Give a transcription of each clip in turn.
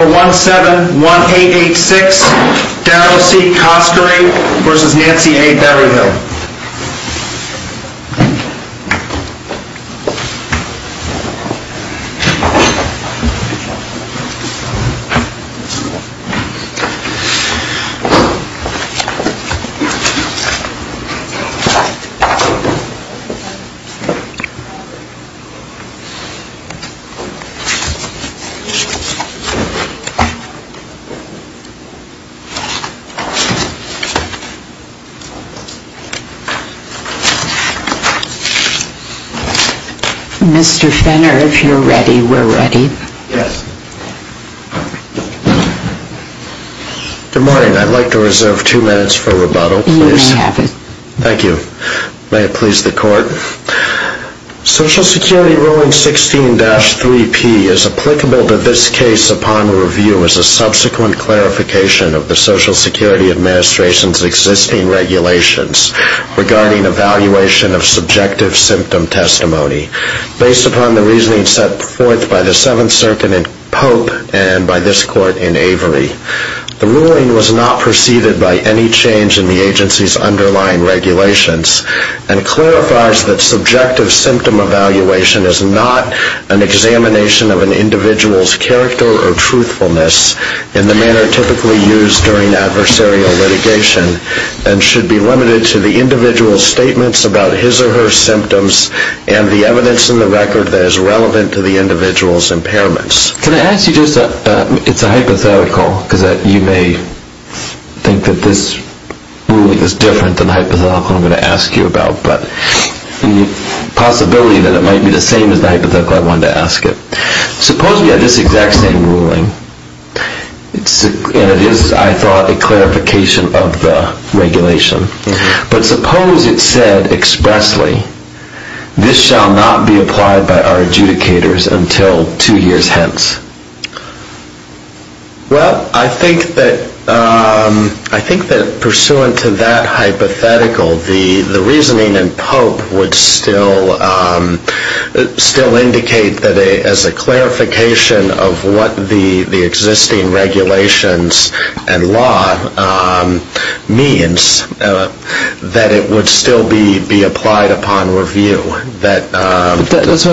171886 Darrow C. Coskery v. Nancy A. Berryhill Mr. Fenner, if you're ready, we're ready. Good morning. I'd like to reserve two minutes for rebuttal, please. You may have it. Thank you. May it please the Court. Social Security Ruling 16-3P is applicable to this case upon review as a subsequent clarification of the Social Security Administration's existing regulations regarding evaluation of subjective symptom testimony, based upon the reasoning set forth by the Seventh Circuit in Pope and by this Court in Avery. The ruling was not preceded by any change in the agency's underlying regulations and clarifies that subjective symptom evaluation is not an examination of an individual's character or truthfulness in the manner typically used during adversarial litigation and should be limited to the individual's statements about his or her symptoms and the evidence in the record that is relevant to the individual's impairments. Can I ask you just a, it's a hypothetical, because you may think that this ruling is different than the hypothetical I'm going to ask you about, but the possibility that it might be the same as the hypothetical I wanted to ask it. Suppose we had this exact same ruling, and it is, I thought, a clarification of the regulation, but suppose it said expressly, this shall not be applied by our adjudicators until two years hence. Well, I think that pursuant to that hypothetical, the reasoning in Pope would still indicate that as a clarification of what the existing regulations and law means, that it would still be applied upon review. Give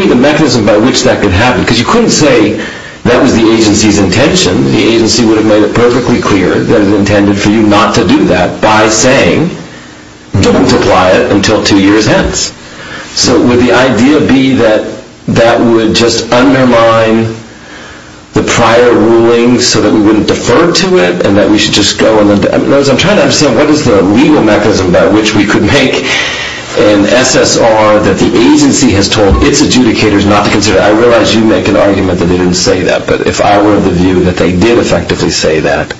me the mechanism by which that could happen, because you couldn't say that was the agency's intention. The agency would have made it perfectly clear that it intended for you not to do that by saying, don't apply it until two years hence. So would the idea be that that would just undermine the prior ruling so that we wouldn't defer to it, and that we should just go? I'm trying to understand, what is the legal mechanism by which we could make an SSR that the agency has told its adjudicators not to consider it? I realize you make an argument that they didn't say that, but if I were of the view that they did effectively say that,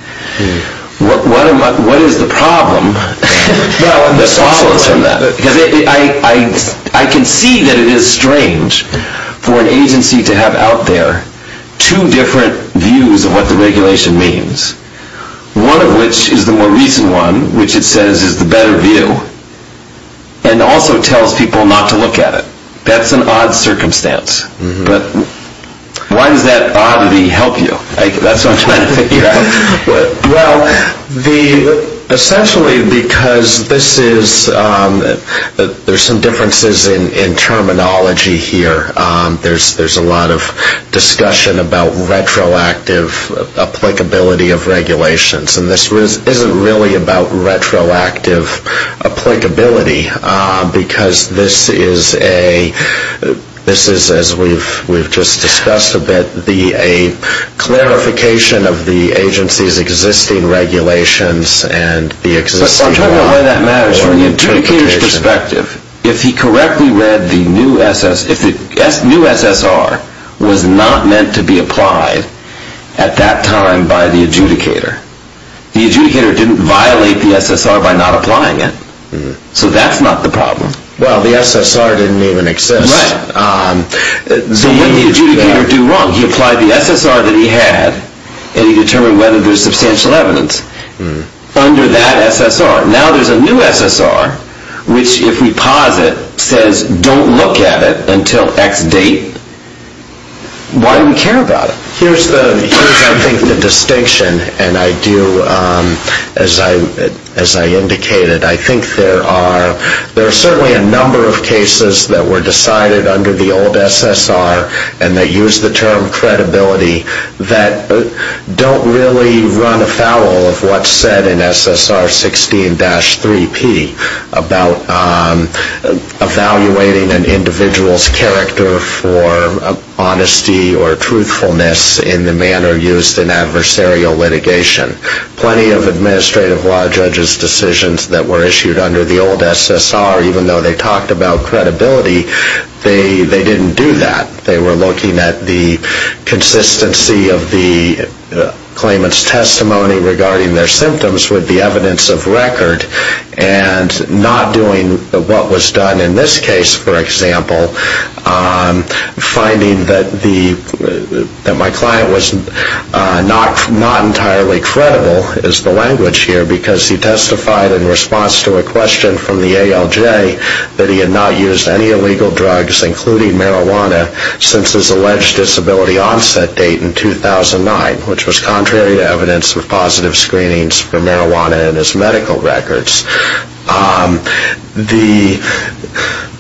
what is the problem that follows from that? I can see that it is strange for an agency to have out there two different views of what the regulation means, one of which is the more recent one, which it says is the better view, and also tells people not to look at it. That's an odd circumstance. But why does that oddity help you? That's what I'm trying to figure out. Well, essentially because this is, there's some differences in terminology here. There's a lot of discussion about retroactive applicability of regulations, and this isn't really about retroactive applicability, because this is, as we've just discussed a bit, a clarification of the agency's existing regulations and the existing law. I'm trying to know why that matters from the adjudicator's perspective. If he correctly read the new SSR, it was not meant to be applied at that time by the adjudicator. The adjudicator didn't violate the SSR by not applying it. So that's not the problem. Well, the SSR didn't even exist. So what did the adjudicator do wrong? He applied the SSR that he had, and he determined whether there's substantial evidence under that SSR. Now there's a new SSR, which if we pause it, says don't look at it until X date. Why do we care about it? Here's, I think, the distinction, and I do, as I indicated, I think there are certainly a number of cases that were decided under the old SSR, and they use the term credibility that don't really run afoul of what's said in SSR 16-3P about evaluating an individual's character for honesty or truthfulness in the manner used in adversarial litigation. Plenty of administrative law judges' decisions that were issued under the old SSR, even though they talked about credibility, they didn't do that. They were looking at the consistency of the claimant's testimony regarding their symptoms with the evidence of record, and not doing what was done in this case, for example, finding that my client was not entirely credible is the language here, because he testified in response to a question from the ALJ that he had not used any illegal drugs, including marijuana, since his alleged disability onset date in 2009, which was contrary to evidence of positive screenings for marijuana in his medical records.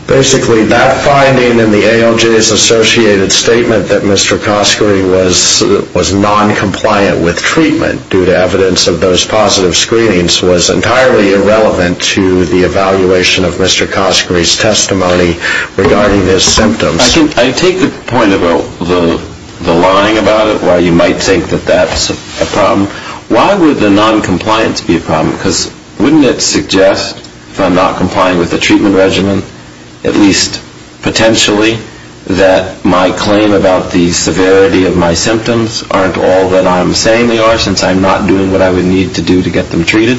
Basically, that finding in the ALJ's associated statement that Mr. Coskery was noncompliant with treatment due to evidence of those positive screenings was entirely irrelevant to the evaluation of Mr. Coskery's testimony regarding his symptoms. I take the point about the lying about it, why you might think that that's a problem. Why would the noncompliance be a problem? Because wouldn't it suggest, if I'm not complying with the treatment regimen, at least potentially, that my claim about the severity of my symptoms aren't all that I'm saying they are, since I'm not doing what I would need to do to get them treated?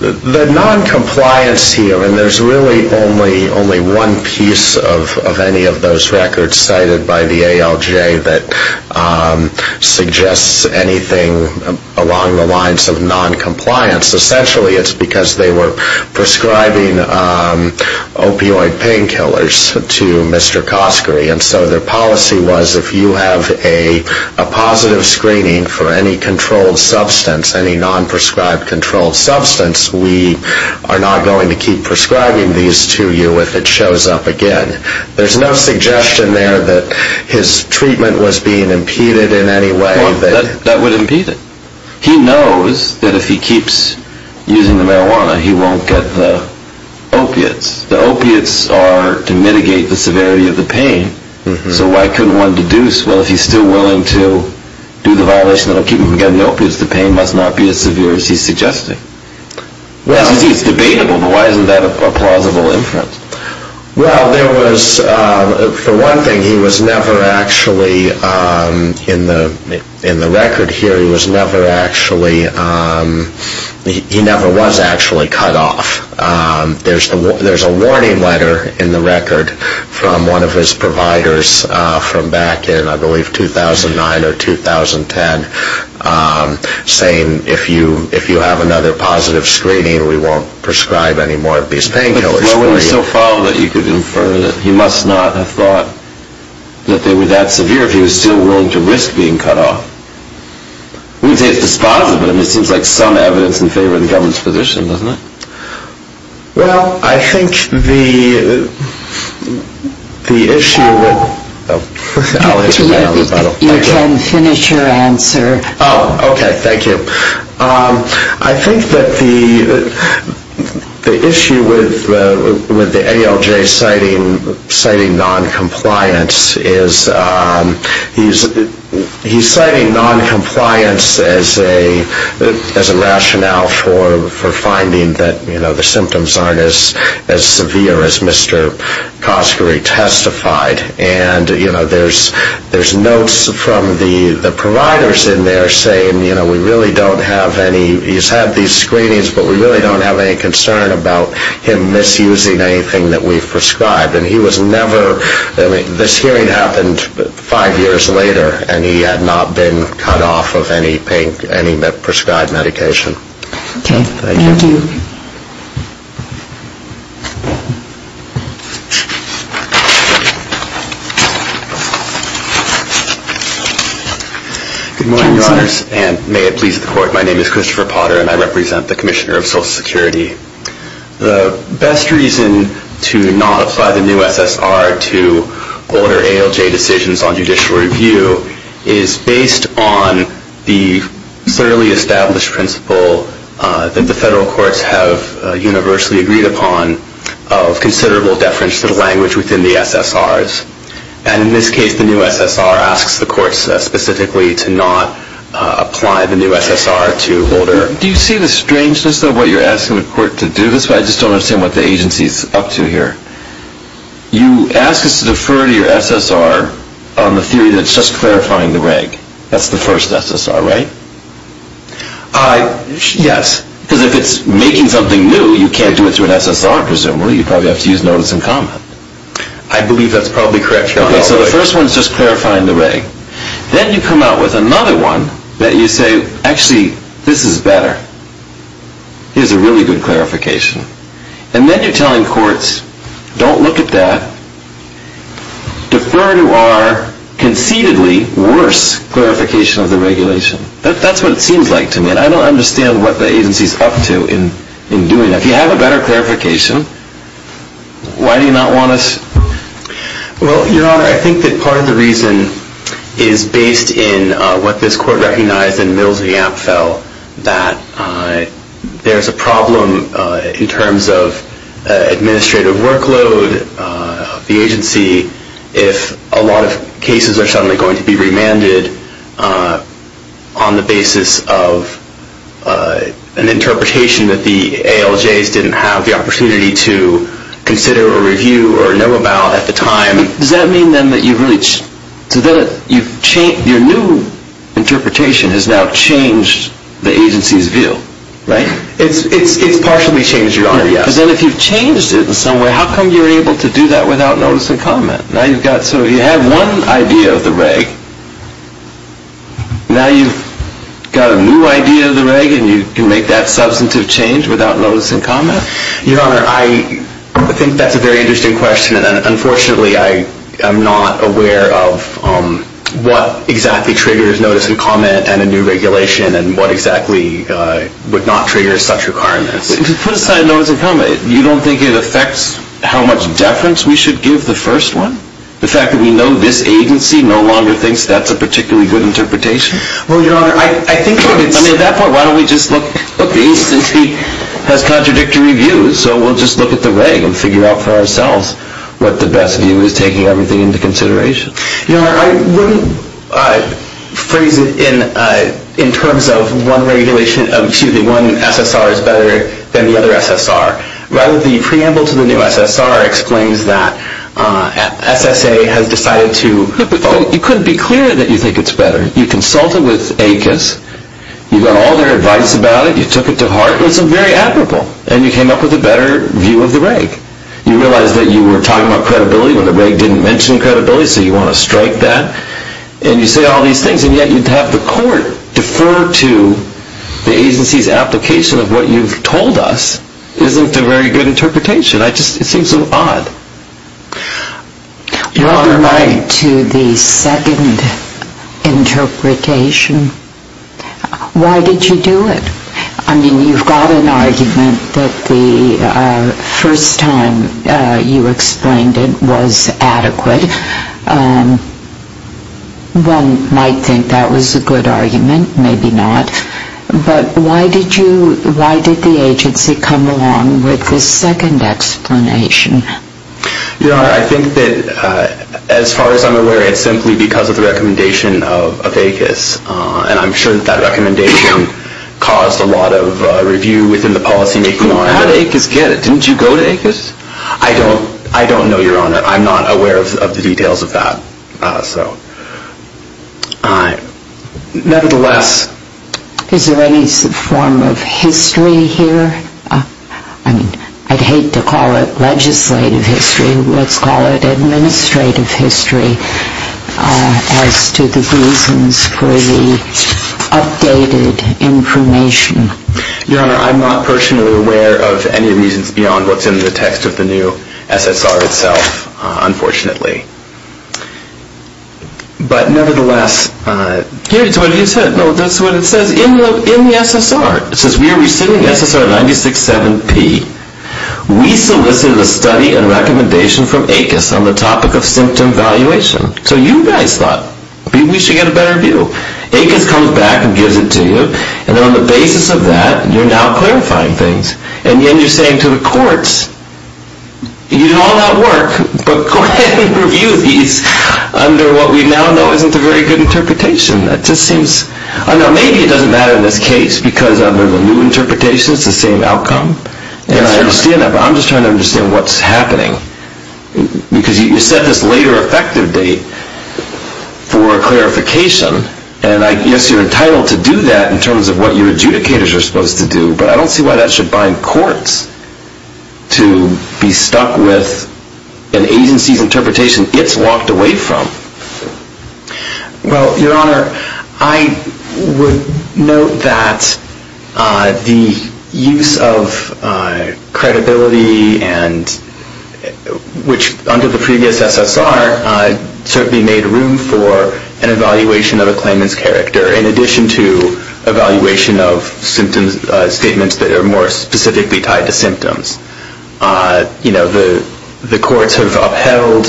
The noncompliance here, and there's really only one piece of any of those records cited by the ALJ that suggests anything along the lines of noncompliance, essentially it's because they were prescribing opioid painkillers to Mr. Coskery, and so their policy was if you have a positive screening for any controlled substance, any non-prescribed controlled substance, we are not going to keep prescribing these to you if it shows up again. There's no suggestion there that his treatment was being impeded in any way. That would impede it. He knows that if he keeps using the marijuana, he won't get the opiates. The opiates are to mitigate the severity of the pain, so why couldn't one deduce, well, if he's still willing to do the violation that will keep him from getting the opiates, the pain must not be as severe as he's suggesting. It's debatable, but why isn't that a plausible inference? Well, there was, for one thing, he was never actually, in the record here, he was never actually, he never was actually cut off. There's a warning letter in the record from one of his providers from back in, I believe, 2009 or 2010, saying if you have another positive screening, we won't prescribe any more of these painkillers for you. Why would he so follow that you could infer that he must not have thought that they were that severe if he was still willing to risk being cut off? We would say it's dispositive, but it seems like some evidence in favor of the government's position, doesn't it? Well, I think the issue with the ALJ citing noncompliance is, he's citing noncompliance as a rationale for finding that the symptoms aren't as severe as Mr. Coskery testified. And there's notes from the providers in there saying we really don't have any, he's had these screenings, but we really don't have any concern about him misusing anything that we've prescribed. And he was never, I mean, this hearing happened five years later, and he had not been cut off of any prescribed medication. Okay, thank you. Good morning, Your Honors, and may it please the Court, my name is Christopher Potter, and I represent the Commissioner of Social Security. The best reason to not apply the new SSR to older ALJ decisions on judicial review is based on the clearly established principle that the federal courts have universally agreed upon of considerable deference to the language within the SSRs. And in this case, the new SSR asks the courts specifically to not apply the new SSR to older. Do you see the strangeness of what you're asking the court to do? I just don't understand what the agency's up to here. You ask us to defer to your SSR on the theory that it's just clarifying the reg. That's the first SSR, right? Yes. Because if it's making something new, you can't do it through an SSR, presumably. You'd probably have to use notice and comment. I believe that's probably correct, Your Honor. Okay, so the first one's just clarifying the reg. Then you come out with another one that you say, actually, this is better. Here's a really good clarification. And then you're telling courts, don't look at that. Defer to our concededly worse clarification of the regulation. That's what it seems like to me, and I don't understand what the agency's up to in doing that. If you have a better clarification, why do you not want us? Well, Your Honor, I think that part of the reason is based in what this court recognized in Middlesex-Yampfell, that there's a problem in terms of administrative workload of the agency if a lot of cases are suddenly going to be remanded on the basis of an interpretation that the ALJs didn't have the opportunity to consider or review or know about at the time. Does that mean then that your new interpretation has now changed the agency's view, right? It's partially changed, Your Honor, yes. Then if you've changed it in some way, how come you're able to do that without notice and comment? So you have one idea of the reg. Now you've got a new idea of the reg, and you can make that substantive change without notice and comment? Your Honor, I think that's a very interesting question, and unfortunately I am not aware of what exactly triggers notice and comment and a new regulation and what exactly would not trigger such requirements. Put aside notice and comment. You don't think it affects how much deference we should give the first one? The fact that we know this agency no longer thinks that's a particularly good interpretation? Well, Your Honor, I think it's... I mean, at that point, why don't we just look at the agency has contradictory views, so we'll just look at the reg and figure out for ourselves what the best view is taking everything into consideration. Your Honor, I wouldn't phrase it in terms of one regulation, excuse me, one SSR is better than the other SSR. Rather, the preamble to the new SSR explains that SSA has decided to... You couldn't be clearer that you think it's better. You consulted with ACUS. You got all their advice about it. You took it to heart. It was very admirable, and you came up with a better view of the reg. You realized that you were talking about credibility when the reg didn't mention credibility, so you want to strike that, and you say all these things, and yet you have the court defer to the agency's application of what you've told us isn't a very good interpretation. It seems so odd. Your Honor, I... You're right to the second interpretation. Why did you do it? I mean, you've got an argument that the first time you explained it was adequate. One might think that was a good argument. Maybe not. But why did you... Why did the agency come along with the second explanation? Your Honor, I think that as far as I'm aware, it's simply because of the recommendation of ACUS, and I'm sure that that recommendation caused a lot of review within the policymaking on it. How did ACUS get it? Didn't you go to ACUS? I don't know, Your Honor. I'm not aware of the details of that. Nevertheless... Is there any form of history here? I mean, I'd hate to call it legislative history. Let's call it administrative history as to the reasons for the updated information. Your Honor, I'm not personally aware of any reasons beyond what's in the text of the new SSR itself, unfortunately. But nevertheless... Here's what it said. No, that's what it says in the SSR. It says, we are rescinding SSR 96-7-P. We solicited a study and recommendation from ACUS on the topic of symptom valuation. So you guys thought we should get a better view. ACUS comes back and gives it to you, and on the basis of that, you're now clarifying things. And yet you're saying to the courts, you did all that work, but go ahead and review these under what we now know isn't a very good interpretation. That just seems... I don't know, maybe it doesn't matter in this case, because under the new interpretation, it's the same outcome. And I understand that, but I'm just trying to understand what's happening. Because you set this later effective date for clarification, and I guess you're entitled to do that in terms of what your adjudicators are supposed to do, but I don't see why that should bind courts to be stuck with an agency's interpretation it's walked away from. Well, Your Honor, I would note that the use of credibility, which under the previous SSR certainly made room for an evaluation of a claimant's character, in addition to evaluation of statements that are more specifically tied to symptoms. The courts have upheld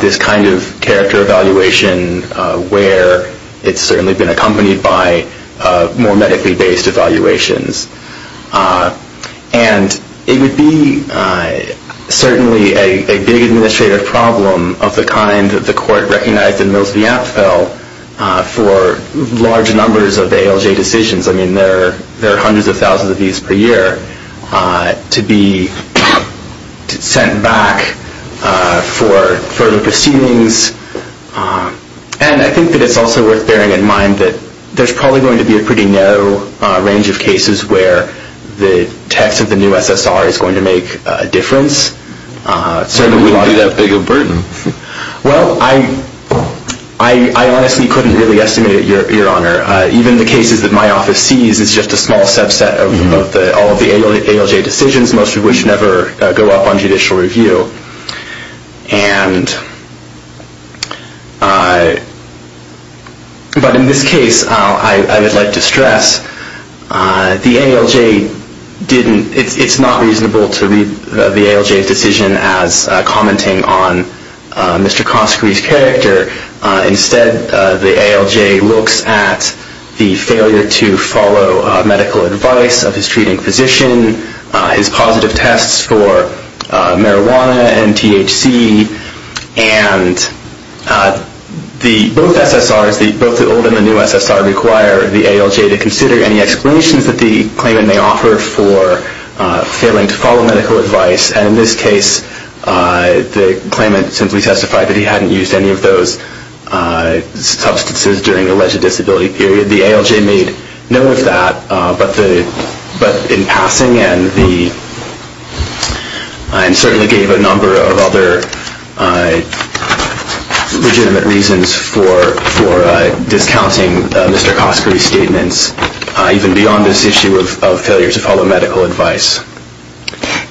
this kind of character evaluation where it's certainly been accompanied by more medically-based evaluations. And it would be certainly a big administrative problem of the kind that the court recognized in Mills v. Apfel for large numbers of ALJ decisions. I mean, there are hundreds of thousands of these per year to be sent back for further proceedings. And I think that it's also worth bearing in mind that there's probably going to be a pretty narrow range of cases where the text of the new SSR is going to make a difference. It certainly wouldn't be that big of a burden. Well, I honestly couldn't really estimate it, Your Honor. Even the cases that my office sees is just a small subset of all of the ALJ decisions, most of which never go up on judicial review. And but in this case, I would like to stress, the ALJ didn't – it's not reasonable to read the ALJ's decision as commenting on Mr. Coskery's character. Instead, the ALJ looks at the failure to follow medical advice of his treating physician, his positive tests for marijuana and THC. And both SSRs, both the old and the new SSR, require the ALJ to consider any explanations that the claimant may offer for failing to follow medical advice. And in this case, the claimant simply testified that he hadn't used any of those substances during the alleged disability period. The ALJ made no of that, but in passing, and certainly gave a number of other legitimate reasons for discounting Mr. Coskery's statements, even beyond this issue of failure to follow medical advice.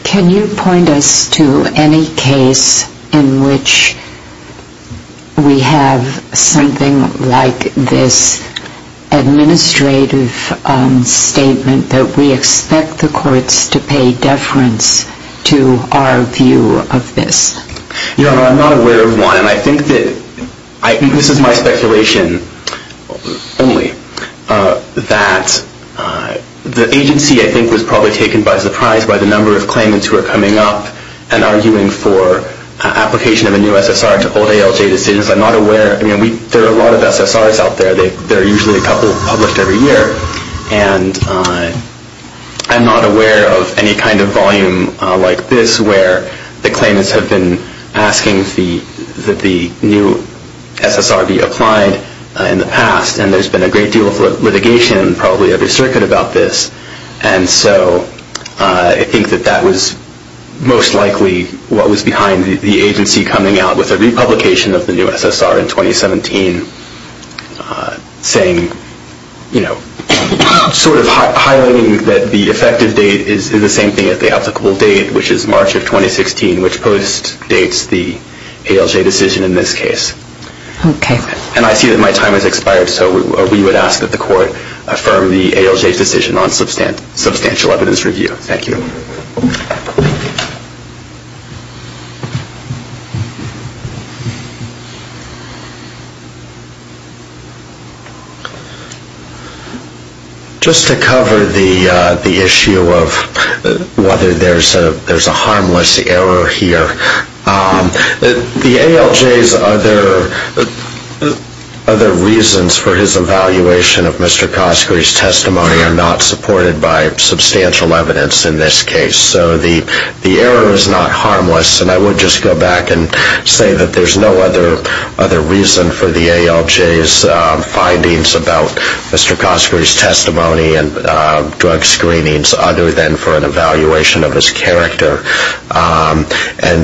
Can you point us to any case in which we have something like this administrative statement that we expect the courts to pay deference to our view of this? Your Honor, I'm not aware of one, and I think that – this is my speculation only – that the agency, I think, was probably taken by surprise by the number of claimants who are coming up and arguing for application of a new SSR to hold ALJ decisions. I'm not aware – I mean, there are a lot of SSRs out there. There are usually a couple published every year. And I'm not aware of any kind of volume like this, where the claimants have been asking that the new SSR be applied in the past. And there's been a great deal of litigation probably every circuit about this. And so I think that that was most likely what was behind the agency coming out with a republication of the new SSR in 2017, saying – sort of highlighting that the effective date is the same thing as the applicable date, which is March of 2016, which post-dates the ALJ decision in this case. Okay. And I see that my time has expired, so we would ask that the Court affirm the ALJ's decision on substantial evidence review. Thank you. Just to cover the issue of whether there's a harmless error here, the ALJ's other reasons for his evaluation of Mr. Cosgrey's testimony are not supported by substantial evidence in this case. So the error is not harmless. And I would just go back and say that there's no other reason for the ALJ's findings about Mr. Cosgrey's testimony and drug screenings other than for an evaluation of his character. And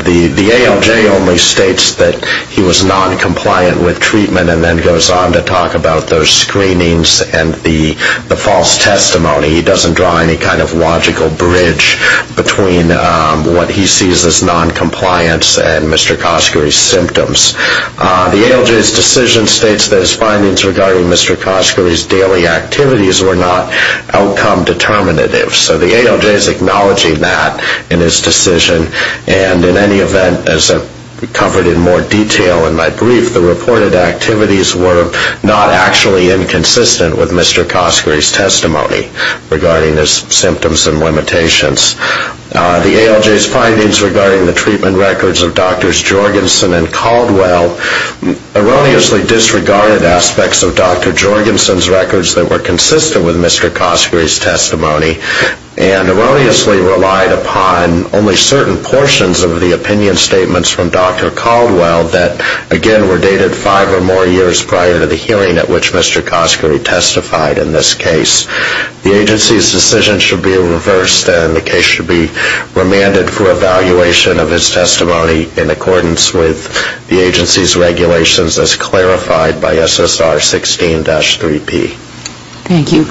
the ALJ only states that he was noncompliant with treatment and then goes on to talk about those screenings and the false testimony. He doesn't draw any kind of logical bridge between what he sees as noncompliance and Mr. Cosgrey's symptoms. The ALJ's decision states that his findings regarding Mr. Cosgrey's daily activities were not outcome determinative. So the ALJ is acknowledging that in his decision. And in any event, as I've covered in more detail in my brief, the reported activities were not actually inconsistent with Mr. Cosgrey's testimony regarding his symptoms and limitations. The ALJ's findings regarding the treatment records of Drs. Jorgensen and Caldwell erroneously disregarded aspects of Dr. Jorgensen's records that were consistent with Mr. Cosgrey's testimony. And erroneously relied upon only certain portions of the opinion statements from Dr. Caldwell that, again, were dated five or more years prior to the hearing at which Mr. Cosgrey testified in this case. The agency's decision should be reversed, and the case should be remanded for evaluation of his testimony in accordance with the agency's regulations as clarified by SSR 16-3P. Thank you.